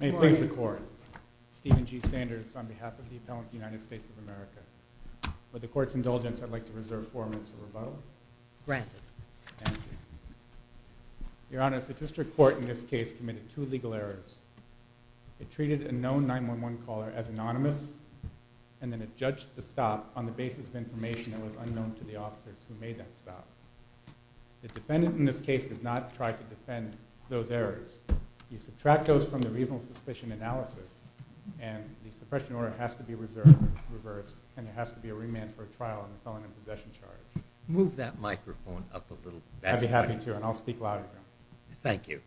May it please the Court, Stephen G. Sanders on behalf of the Appellant to the United States of America. With the Court's indulgence, I'd like to reserve four minutes of rebuttal. Granted. Thank you. Your Honor, the District Court in this case committed two legal errors. It treated a known 911 caller as anonymous and then it judged the stop on the basis of information that was unknown to the officers who made that stop. The defendant in this case does not try to defend those errors. You subtract those from the reasonable suspicion analysis and the suppression order has to be reserved, reversed, and there has to be a remand for a trial on the felon in possession charge. Move that microphone up a little. I'd be happy to and I'll speak louder. Thank you.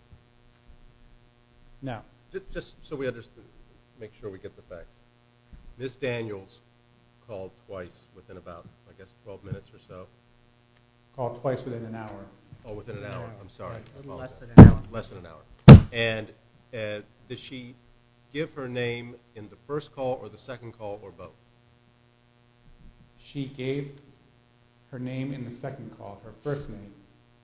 Now. Just so we understand, make sure we get the facts. Ms. Daniels called twice within about, I guess, 12 minutes or so. Called twice within an hour. Oh, within an hour. I'm sorry. Less than an hour. And did she give her name in the first call or the second call or both? She gave her name in the second call, her first name.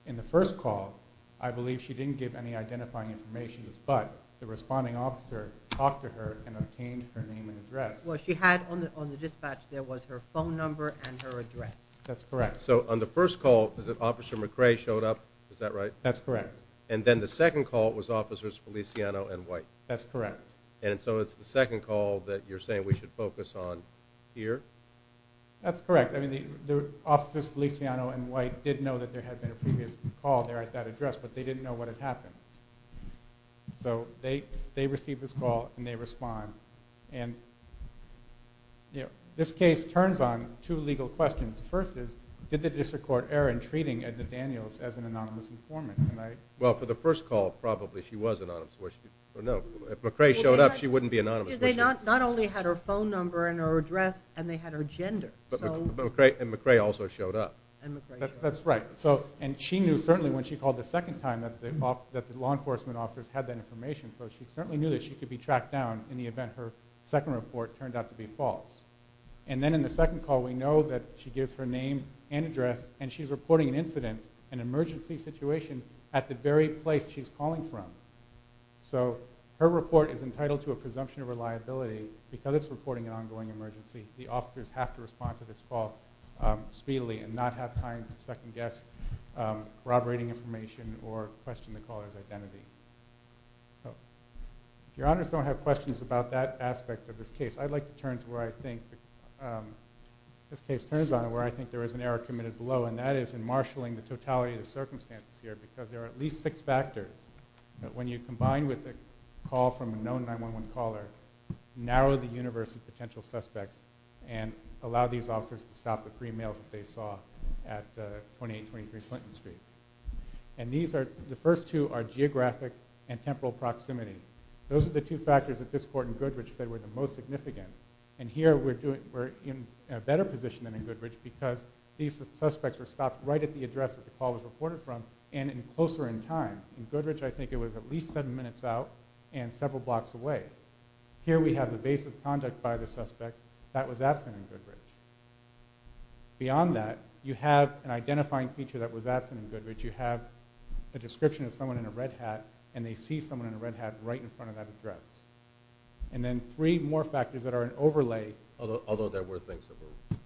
In the first call, I believe she didn't give any identifying information, but the responding officer talked to her and obtained her name and address. Well, she had on the dispatch, there was her phone number and her address. That's correct. So on the first call, Officer McRae showed up. Is that right? That's correct. And then the second call was Officers Feliciano and White. That's correct. And so it's the second call that you're saying we should focus on here? That's correct. I mean, the Officers Feliciano and White did know that there had been a previous call there at that address, but they didn't know what had happened. So they received this call and they responded. And this case turns on two legal questions. First is, did the District Court error in treating Edna Daniels as an anonymous informant? Well, for the first call, probably she was anonymous. If McRae showed up, she wouldn't be anonymous. Because they not only had her That's right. And she knew certainly when she called the second time that the law enforcement officers had that information. So she certainly knew that she could be tracked down in the event her second report turned out to be false. And then in the second call, we know that she gives her name and address, and she's reporting an incident, an emergency situation at the very place she's calling from. So her report is entitled to a presumption of reliability because it's reporting an ongoing emergency. The officers have to respond to and not have time to second-guess corroborating information or question the caller's identity. If your Honors don't have questions about that aspect of this case, I'd like to turn to where I think this case turns on and where I think there was an error committed below, and that is in marshalling the totality of the circumstances here, because there are at least six factors that, when you combine with a call from a known 911 caller, narrow the universe of potential suspects and allow these officers to stop the three males that they saw at 2823 Clinton Street. And these are, the first two are geographic and temporal proximity. Those are the two factors that this court in Goodridge said were the most significant. And here we're doing, we're in a better position than in Goodridge because these suspects were stopped right at the address that the call was reported from and in closer in time. In Goodridge, I think it was at least seven minutes out and several blocks away. Here we have the base of contact by the suspect that was absent in Goodridge. Beyond that, you have an identifying feature that was absent in Goodridge. You have a description of someone in a red hat, and they see someone in a red hat right in front of that address. And then three more factors that are an overlay... Although there were things that were...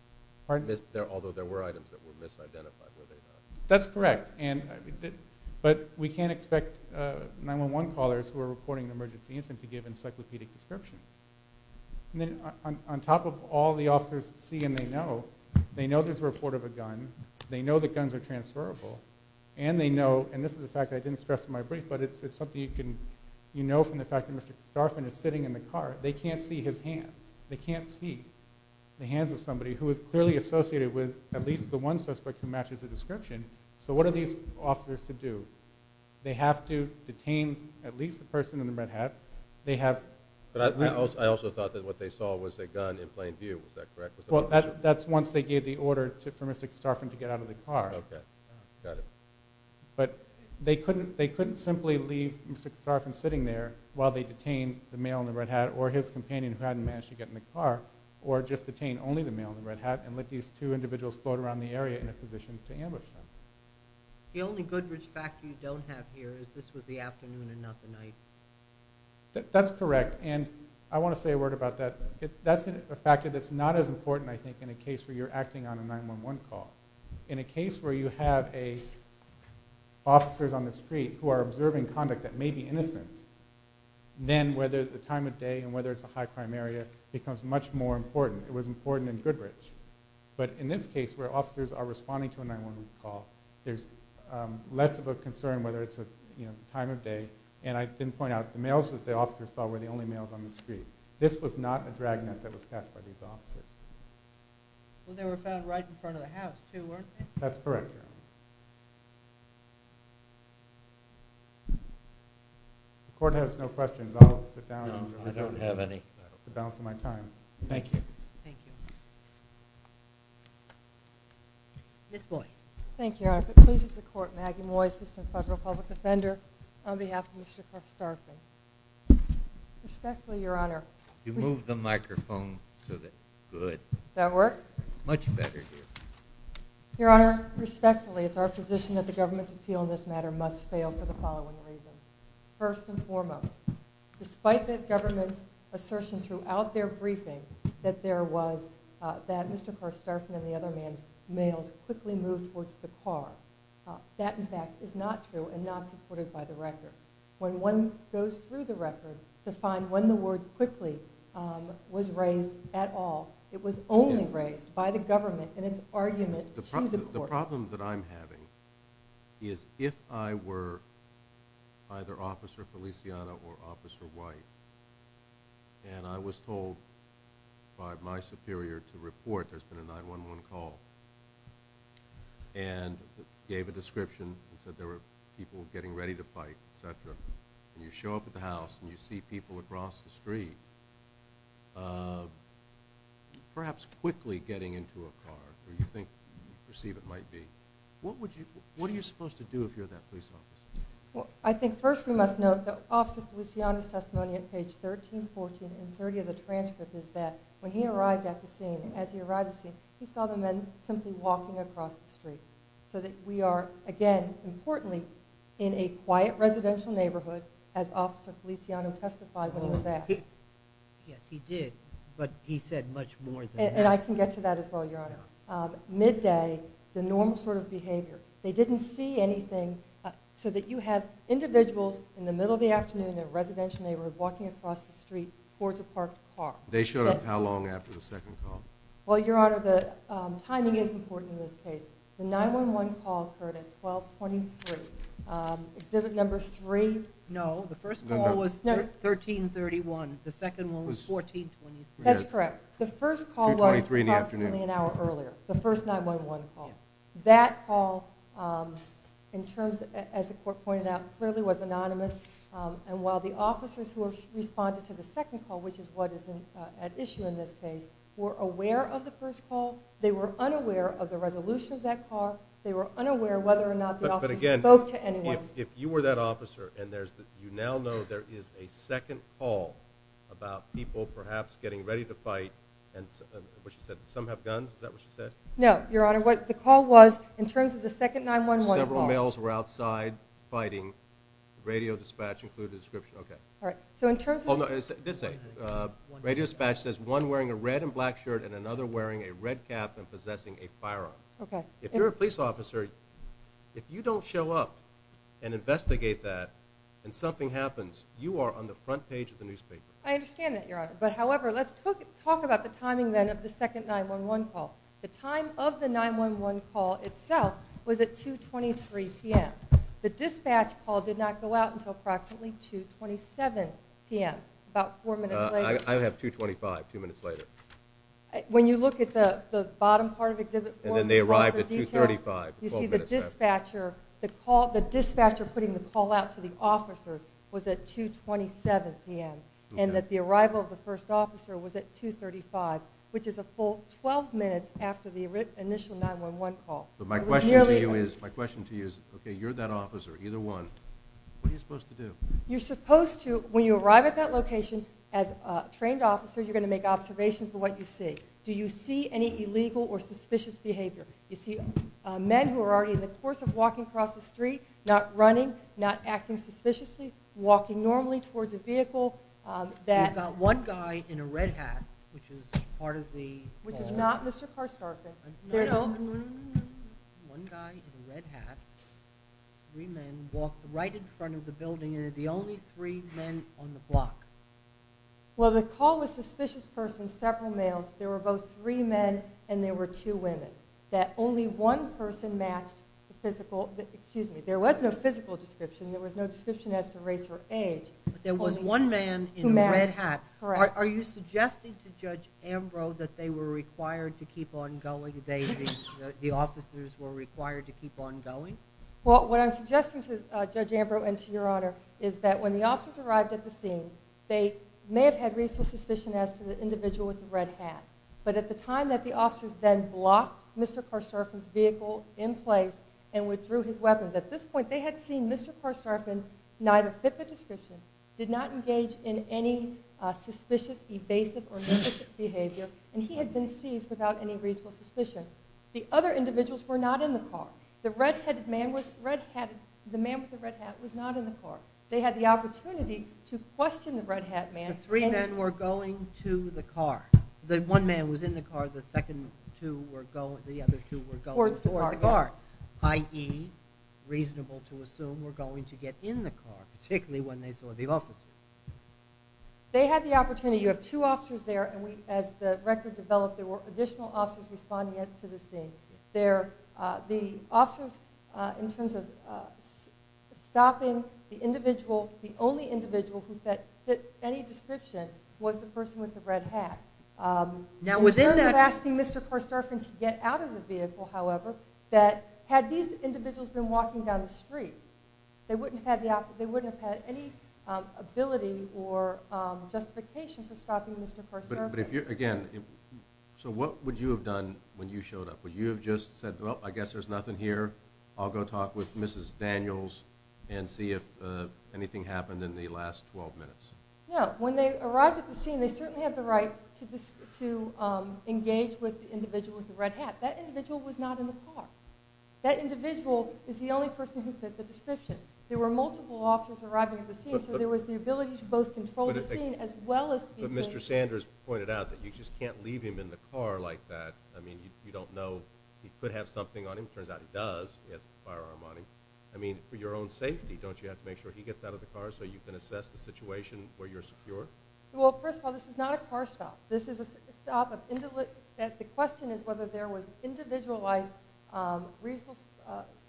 Pardon? Although there were items that were misidentified where they had... That's correct. But we can't expect 911 callers who are reporting an emergency incident to give encyclopedic descriptions. And then on top of all the officers see and they know, they know there's a report of a gun, they know that guns are transferable, and they know, and this is a fact I didn't stress in my brief, but it's something you can, you know from the fact that Mr. Garfin is sitting in the car, they can't see his hands. They can't see the hands of somebody who is clearly associated with at least the one suspect who matches the description. So what are these officers to do? They have to detain at least the person in the red hat. They have... But I also thought that what they saw was a gun in plain view. Is that correct? Well, that's once they gave the order for Mr. Garfin to get out of the car. Okay. Got it. But they couldn't simply leave Mr. Garfin sitting there while they detained the male in the red hat or his companion who hadn't managed to get in the car, or just detain only the male in the red hat and let these two individuals float around the area in a position to ambush them. The only Goodrich fact you don't have here is this was the afternoon and not the night. That's correct, and I want to say a word about that. That's a factor that's not as important I think in a case where you're acting on a 911 call. In a case where you have officers on the street who are observing conduct that may be innocent, then whether the time of day and whether it's a high crime area becomes much more important. It was important in Goodrich. But in this case, where officers are responding to a 911 call, there's less of a concern whether it's a time of day. And I didn't point out, the males that the officers saw were the only males on the street. This was not a dragnet that was passed by these officers. Well, they were found right in front of the house too, weren't they? That's correct, Your Honor. The Court has no questions. I'll sit down. No, I don't have any. I'm balancing my time. Thank you. Thank you. Ms. Moy. Thank you, Your Honor. If it pleases the Court, Maggie Moy, Assistant Federal Public Defender, on behalf of Mr. Karp Starkey. Respectfully, Your Honor. You move the microphone so that it's good. Does that work? Much better, dear. Your Honor, respectfully, it's our position that the government's appeal in this matter must fail for the following reasons. First and foremost, despite the government's assertion throughout their briefing that there was, that Mr. Karp Starkey and the other man's males quickly moved towards the car. That, in fact, is not true and not supported by the record. When one goes through the record to find when the word quickly was raised at all, it was only raised by the government in its argument to the Court. The problem that I'm having is if I were either Officer Feliciano or Officer White, and I was told by my superior to report there's been a 9-1-1 call, and gave a description and said there were people getting ready to fight, et cetera, and you show up at the house and you see people across the street perhaps quickly getting into a car where you think you perceive it might be. What would you, what are you supposed to do if you're that police officer? Well, I think first we must note that Officer Feliciano's testimony at page 13, 14, and 30 of the transcript is that when he arrived at the scene, as he arrived at the scene, he saw the men simply walking across the street. So that we are, again, importantly, in a quiet residential neighborhood as Officer Feliciano testified when he was asked. Yes, he did, but he said much more than that. And I can get to that as well, Your Honor. Midday, the normal sort of behavior. They showed up how long after the second call? Well, Your Honor, the timing is important in this case. The 9-1-1 call occurred at 1223. Exhibit number 3. No, the first call was 1331. The second one was 1423. That's correct. The first call was approximately an hour earlier. The first 9-1-1 call. That call, as the Court pointed out, clearly was anonymous. And while the officers who responded to the second call, which is what is at issue in this case, were aware of the first call, they were unaware of the resolution of that call. They were unaware whether or not the officers spoke to anyone. But again, if you were that officer and you now know there is a second call about people perhaps getting ready to fight, and what she said, some have guns, is that what she said? No, Your Honor. The call was in terms of the second 9-1-1 call. Several males were outside fighting. Radio dispatch included a description. Okay. All right. So in terms of... Oh, no. Radio dispatch says one wearing a red and black shirt and another wearing a red cap and possessing a firearm. Okay. If you're a police officer, if you don't show up and investigate that and something happens, you are on the front page of the newspaper. I understand that, Your Honor. But however, let's talk about the timing then of the second 9-1-1 call. The time of the 9-1-1 call itself was at 2.23 p.m. The dispatch call did not go out until approximately 2.27 p.m., about four minutes later. I have 2.25, two minutes later. When you look at the bottom part of Exhibit 4... And then they arrived at 2.35, 12 minutes later. You see the dispatcher putting the call out to the officers was at 2.27 p.m. Okay. The arrival of the first officer was at 2.35, which is a full 12 minutes after the initial 9-1-1 call. So my question to you is, okay, you're that officer, either one. What are you supposed to do? You're supposed to, when you arrive at that location as a trained officer, you're going to make observations of what you see. Do you see any illegal or suspicious behavior? You see men who are already in the course of walking across the street, not running, not acting suspiciously, walking normally towards a vehicle that... You've got one guy in a red hat, which is part of the... Which is not Mr. Parsgarthin. One guy in a red hat, three men, walked right in front of the building, and they're the only three men on the block. Well, the call was suspicious persons, several males. There were both three men, and there were two women, that only one person matched the physical... Excuse me. There was no physical description. There was no description as to race or age. But there was one man in a red hat. Correct. Are you suggesting to Judge Ambrose that they were required to keep on going, the officers were required to keep on going? Well, what I'm suggesting to Judge Ambrose and to Your Honor is that when the officers arrived at the scene, they may have had reasonable suspicion as to the individual with the red hat, but at the time that the officers then blocked Mr. Parsgarthin's vehicle in place and withdrew his weapon, at this point they had seen Mr. Parsgarthin neither fit the description, did not engage in any suspicious, evasive, or suspicious behavior, and he had been seized without any reasonable suspicion. The other individuals were not in the car. The man with the red hat was not in the car. They had the opportunity to question the red hat man... They were going to the car. The one man was in the car, the other two were going toward the car, i.e., reasonable to assume, were going to get in the car, particularly when they saw the officers. They had the opportunity. You have two officers there, and as the record developed, there were additional officers responding to the scene. The officers, in terms of stopping the individual, the only individual who fit any description was the person with the red hat. In terms of asking Mr. Parsgarthin to get out of the vehicle, however, had these individuals been walking down the street, they wouldn't have had any ability or justification for stopping Mr. Parsgarthin. Again, so what would you have done when you showed up? Would you have just said, Well, I guess there's nothing here. I'll go talk with Mrs. Daniels and see if anything happened in the last 12 minutes. No. When they arrived at the scene, they certainly had the right to engage with the individual with the red hat. That individual was not in the car. That individual is the only person who fit the description. There were multiple officers arriving at the scene, so there was the ability to both control the scene as well as... But Mr. Sanders pointed out that you just can't leave him in the car like that. I mean, you don't know he could have something on him. It turns out he does. He has a firearm on him. I mean, for your own safety, don't you have to make sure he gets out of the car so you can assess the situation where you're secure? Well, first of all, this is not a car stop. The question is whether there was individualized reasonable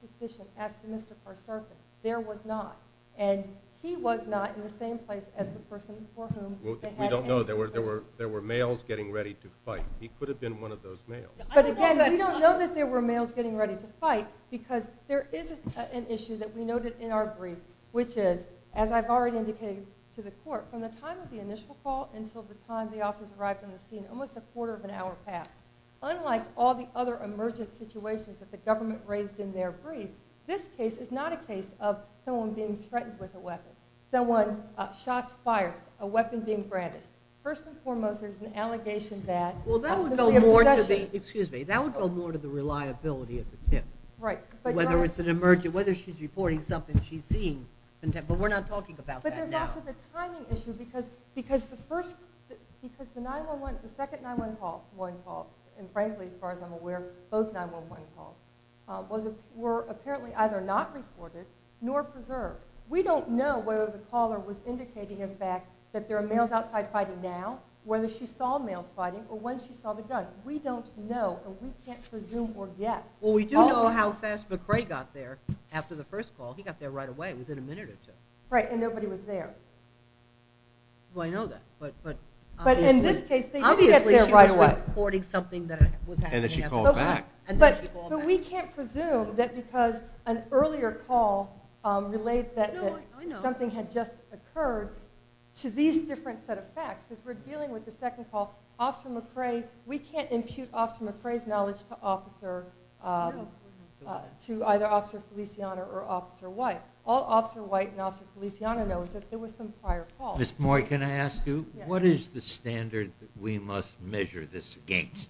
suspicion as to Mr. Parsgarthin. There was not. And he was not in the same place as the person for whom... We don't know. There were males getting ready to fight. He could have been one of those males. But again, we don't know that there were males getting ready to fight because there is an issue that we noted in our brief, which is, as I've already indicated to the court, from the time of the initial call until the time the officers arrived on the scene, almost a quarter of an hour passed. Unlike all the other emergent situations that the government raised in their brief, this case is not a case of someone being threatened with a weapon, someone's shots fired, a weapon being branded. First and foremost, there's an allegation that... Well, that would go more to the reliability of the tip. Right. Whether it's an emergent, whether she's reporting something she's seen. But we're not talking about that now. But there's also the timing issue because the second 9-1-1 call, and frankly, as far as I'm aware, both 9-1-1 calls, were apparently either not reported nor preserved. We don't know whether the caller was indicating, in fact, that there are males outside fighting now, whether she saw males fighting, or when she saw the gun. We don't know, and we can't presume or guess. Well, we do know how fast McCrae got there after the first call. He got there right away, within a minute or two. Right, and nobody was there. Well, I know that. But in this case, they did get there right away. Obviously, she was reporting something that was happening. And then she called back. But we can't presume that because an earlier call relates that something had just occurred to these different set of facts. Because we're dealing with the second call. We can't impute Officer McCrae's knowledge to either Officer Feliciano or Officer White. All Officer White and Officer Feliciano know is that there was some prior call. Ms. Moy, can I ask you, what is the standard that we must measure this against?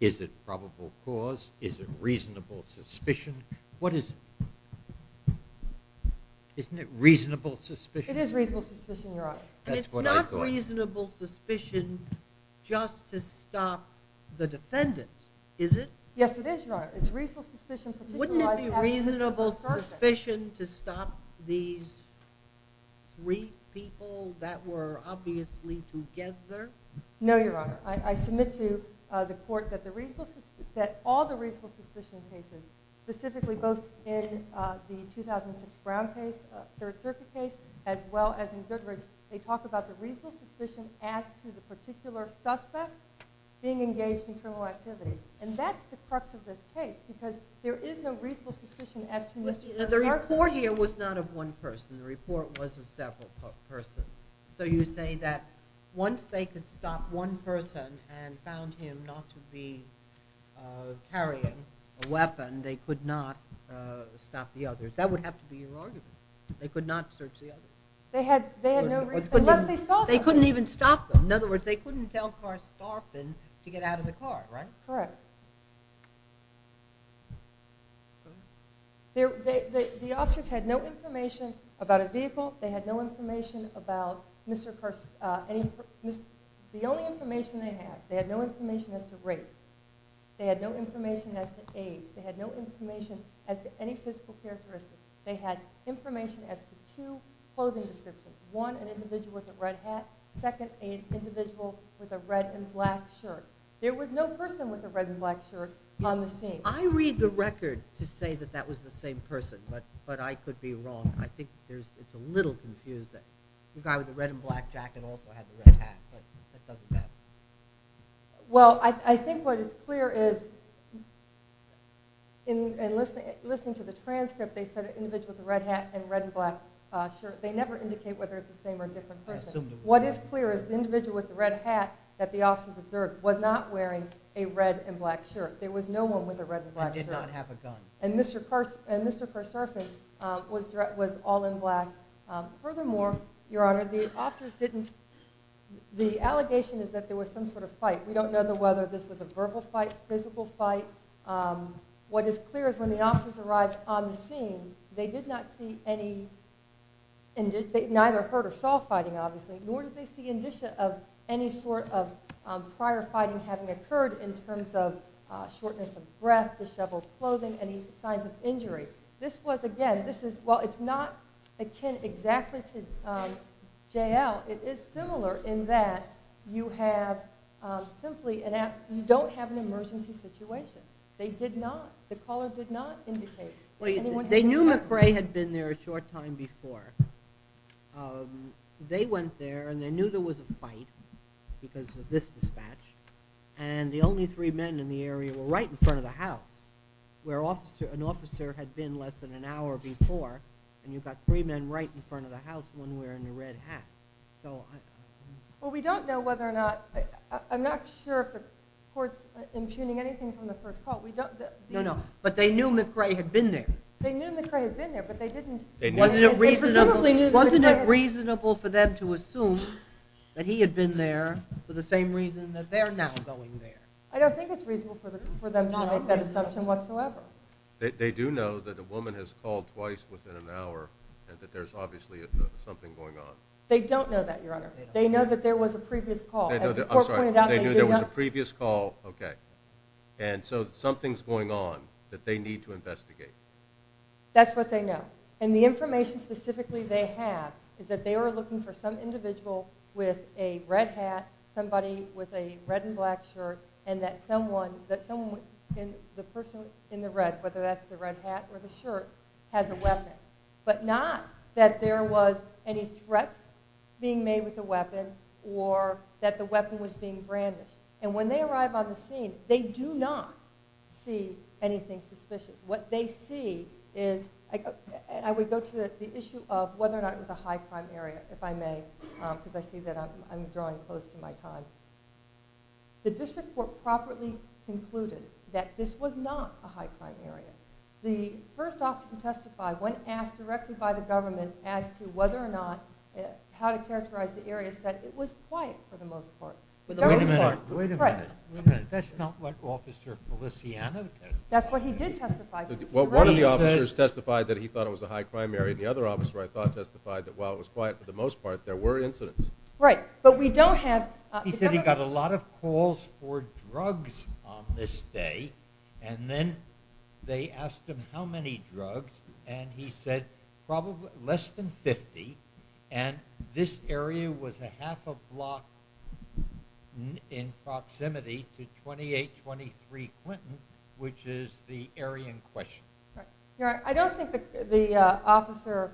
Is it probable cause? Is it reasonable suspicion? What is it? Isn't it reasonable suspicion? It is reasonable suspicion, Your Honor. And it's not reasonable suspicion just to stop the defendants, is it? Yes, it is, Your Honor. It's reasonable suspicion for people like that. Wouldn't it be reasonable suspicion to stop these three people that were obviously together? No, Your Honor. I submit to the court that all the reasonable suspicion cases, specifically both in the 2006 Brown case, Third Circuit case, as well as in Goodrich, they talk about the reasonable suspicion as to the particular suspect being engaged in criminal activity. And that's the crux of this case, because there is no reasonable suspicion as to Mr. McClark. The report here was not of one person. The report was of several persons. So you say that once they could stop one person and found him not to be carrying a weapon, they could not stop the others. That would have to be your argument. They could not search the others. They had no reason, unless they saw something. They couldn't even stop them. In other words, they couldn't tell Carstorphine to get out of the car, right? Correct. The officers had no information about a vehicle. They had no information about Mr. Carstorphine. The only information they had, they had no information as to race. They had no information as to age. They had no information as to any physical characteristics. They had information as to two clothing descriptions. One, an individual with a red hat. Second, an individual with a red and black shirt. There was no person with a red and black shirt on the scene. I read the record to say that that was the same person, but I could be wrong. I think it's a little confused that the guy with the red and black jacket also had the red hat, but that doesn't matter. Well, I think what is clear is, in listening to the transcript, they said an individual with a red hat and red and black shirt. They never indicate whether it's the same or different person. What is clear is the individual with the red hat that the officers observed was not wearing a red and black shirt. There was no one with a red and black shirt. And did not have a gun. And Mr. Kerserfin was all in black. Furthermore, Your Honor, the officers didn't... The allegation is that there was some sort of fight. We don't know whether this was a verbal fight, physical fight. What is clear is when the officers arrived on the scene, they did not see any... They neither heard or saw fighting, obviously, nor did they see any sort of prior fighting having occurred in terms of shortness of breath, disheveled clothing, any signs of injury. This was, again, this is... While it's not akin exactly to J.L., it is similar in that you have simply... You don't have an emergency situation. They did not. The caller did not indicate. They knew McRae had been there a short time before. They went there, and they knew there was a fight because of this dispatch. And the only three men in the area were right in front of the house, where an officer had been less than an hour before, and you've got three men right in front of the house, one wearing a red hat. Well, we don't know whether or not... I'm not sure if the court's impugning anything from the first call. No, no, but they knew McRae had been there. They knew McRae had been there, but they didn't... Wasn't it reasonable for them to assume that he had been there for the same reason that they're now going there? I don't think it's reasonable for them to make that assumption whatsoever. They do know that a woman has called twice within an hour and that there's obviously something going on. They don't know that, Your Honor. They know that there was a previous call. As the court pointed out... They knew there was a previous call, okay. And so something's going on that they need to investigate. That's what they know. And the information specifically they have is that they were looking for some individual with a red hat, somebody with a red and black shirt, and that someone, the person in the red, whether that's the red hat or the shirt, has a weapon, but not that there was any threat being made with the weapon or that the weapon was being brandished. And when they arrive on the scene, they do not see anything suspicious. What they see is... I would go to the issue of whether or not it was a high-crime area, if I may, because I see that I'm drawing close to my time. The district court properly concluded that this was not a high-crime area. The first officer to testify when asked directly by the government as to whether or not, how to characterize the area, said it was quiet for the most part. Wait a minute, wait a minute. That's not what Officer Feliciano testified. That's what he did testify to. Well, one of the officers testified that he thought it was a high-crime area, and the other officer, I thought, testified that while it was quiet for the most part, there were incidents. Right, but we don't have... He said he got a lot of calls for drugs on this day, and then they asked him how many drugs, and he said probably less than 50, and this area was a half a block in proximity to 2823 Quentin, which is the area in question. I don't think the officer,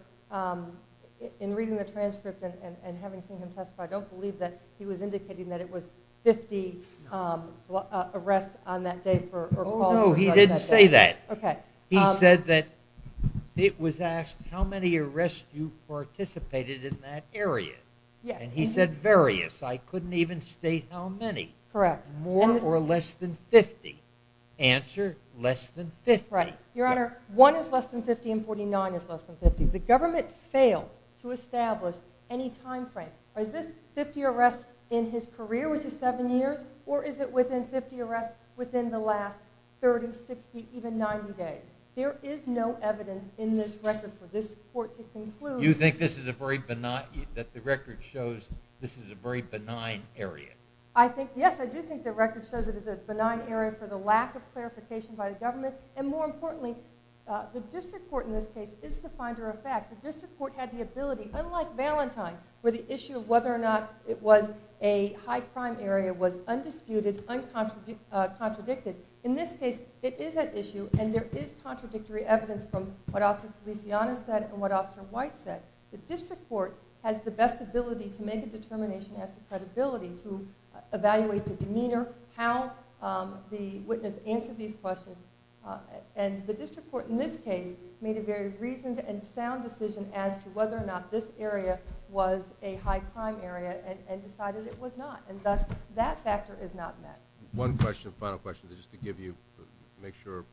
in reading the transcript and having seen him testify, I don't believe that he was indicating that it was 50 arrests on that day or calls for drugs on that day. Oh, no, he didn't say that. He said that it was asked how many arrests you participated in that area, and he said various. I couldn't even state how many. More or less than 50. Answer, less than 50. Your Honor, 1 is less than 50 and 49 is less than 50. The government failed to establish any time frame. Is this 50 arrests in his career, which is 7 years, or is it within 50 arrests within the last 30, 60, even 90 days? There is no evidence in this record for this court to conclude... You think that the record shows this is a very benign area? Yes, I do think the record shows it is a benign area for the lack of clarification by the government and, more importantly, the district court in this case is the finder of fact. The district court had the ability, unlike Valentine, where the issue of whether or not it was a high-crime area was undisputed, uncontradicted. In this case, it is at issue, and there is contradictory evidence from what Officer Feliciano said and what Officer White said. The district court has the best ability to make a determination as to credibility, to evaluate the demeanor, how the witness answered these questions, and the district court in this case made a very reasoned and sound decision as to whether or not this area was a high-crime area and decided it was not, and thus that factor is not met. One question, final question, just to give you... make sure...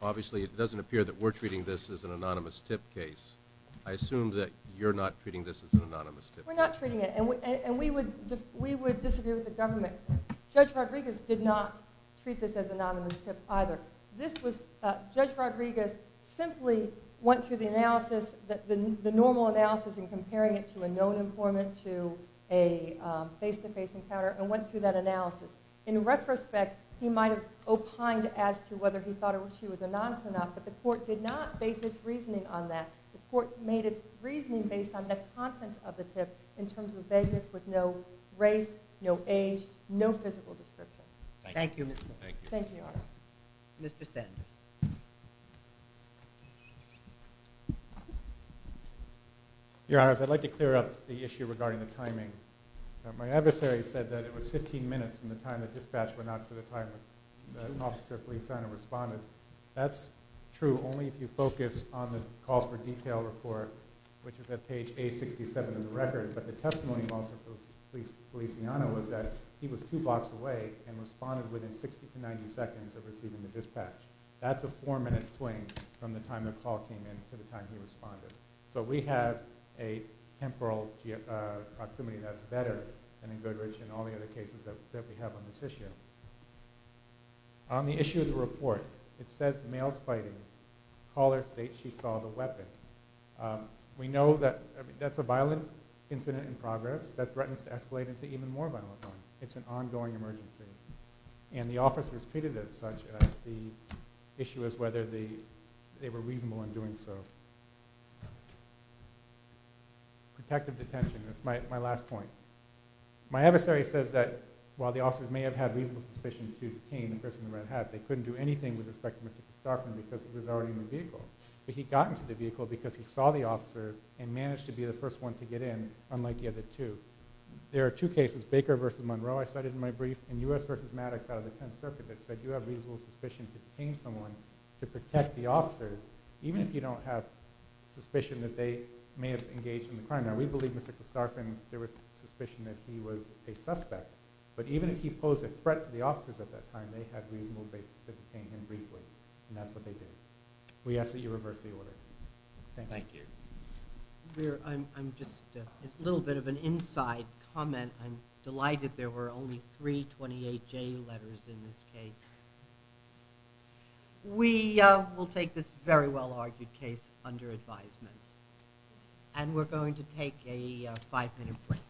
Obviously, it doesn't appear that we're treating this as an anonymous tip case. I assume that you're not treating this as an anonymous tip case. We're not treating it, and we would disagree with the government. Judge Rodriguez did not treat this as an anonymous tip either. This was... Judge Rodriguez simply went through the analysis, the normal analysis in comparing it to a known informant, to a face-to-face encounter, and went through that analysis. In retrospect, he might have opined as to whether he thought she was anonymous or not, but the court did not base its reasoning on that. The court made its reasoning based on the content of the tip in terms of vagueness with no race, no age, no physical description. Thank you. Thank you, Your Honor. Mr. Sands. Your Honor, I'd like to clear up the issue regarding the timing. My adversary said that it was 15 minutes from the time the dispatch went out to the time that Officer Feliciano responded. That's true only if you focus on the calls for detail report, which is at page A67 of the record, but the testimony of Officer Feliciano was that he was two blocks away and responded within 60 to 90 seconds of receiving the dispatch. That's a four-minute swing from the time the call came in to the time he responded. So we have a temporal proximity that's better than in Goodrich and all the other cases that we have on this issue. On the issue of the report, it says the male's fighting. The caller states she saw the weapon. We know that's a violent incident in progress that threatens to escalate into even more violent ones. It's an ongoing emergency, and the officers treated it as such. The issue is whether they were reasonable in doing so. Protective detention. That's my last point. My adversary says that while the officers may have had reasonable suspicion to detain the person in the red hat, they couldn't do anything with respect to Mr. Kostarpin because he was already in the vehicle. But he got into the vehicle because he saw the officers and managed to be the first one to get in, unlike the other two. There are two cases, Baker v. Monroe, I cited in my brief, and U.S. v. Maddox out of the Tenth Circuit that said you have reasonable suspicion to detain someone to protect the officers, even if you don't have suspicion that they may have engaged in the crime. Now, we believe Mr. Kostarpin, there was suspicion that he was a suspect, but even if he posed a threat to the officers at that time, they had reasonable basis to detain him briefly. And that's what they did. We ask that you reverse the order. Thank you. I'm just a little bit of an inside comment. I'm delighted there were only three 28-J letters in this case. We will take this very well-argued case under advisement. And we're going to take a five-minute break.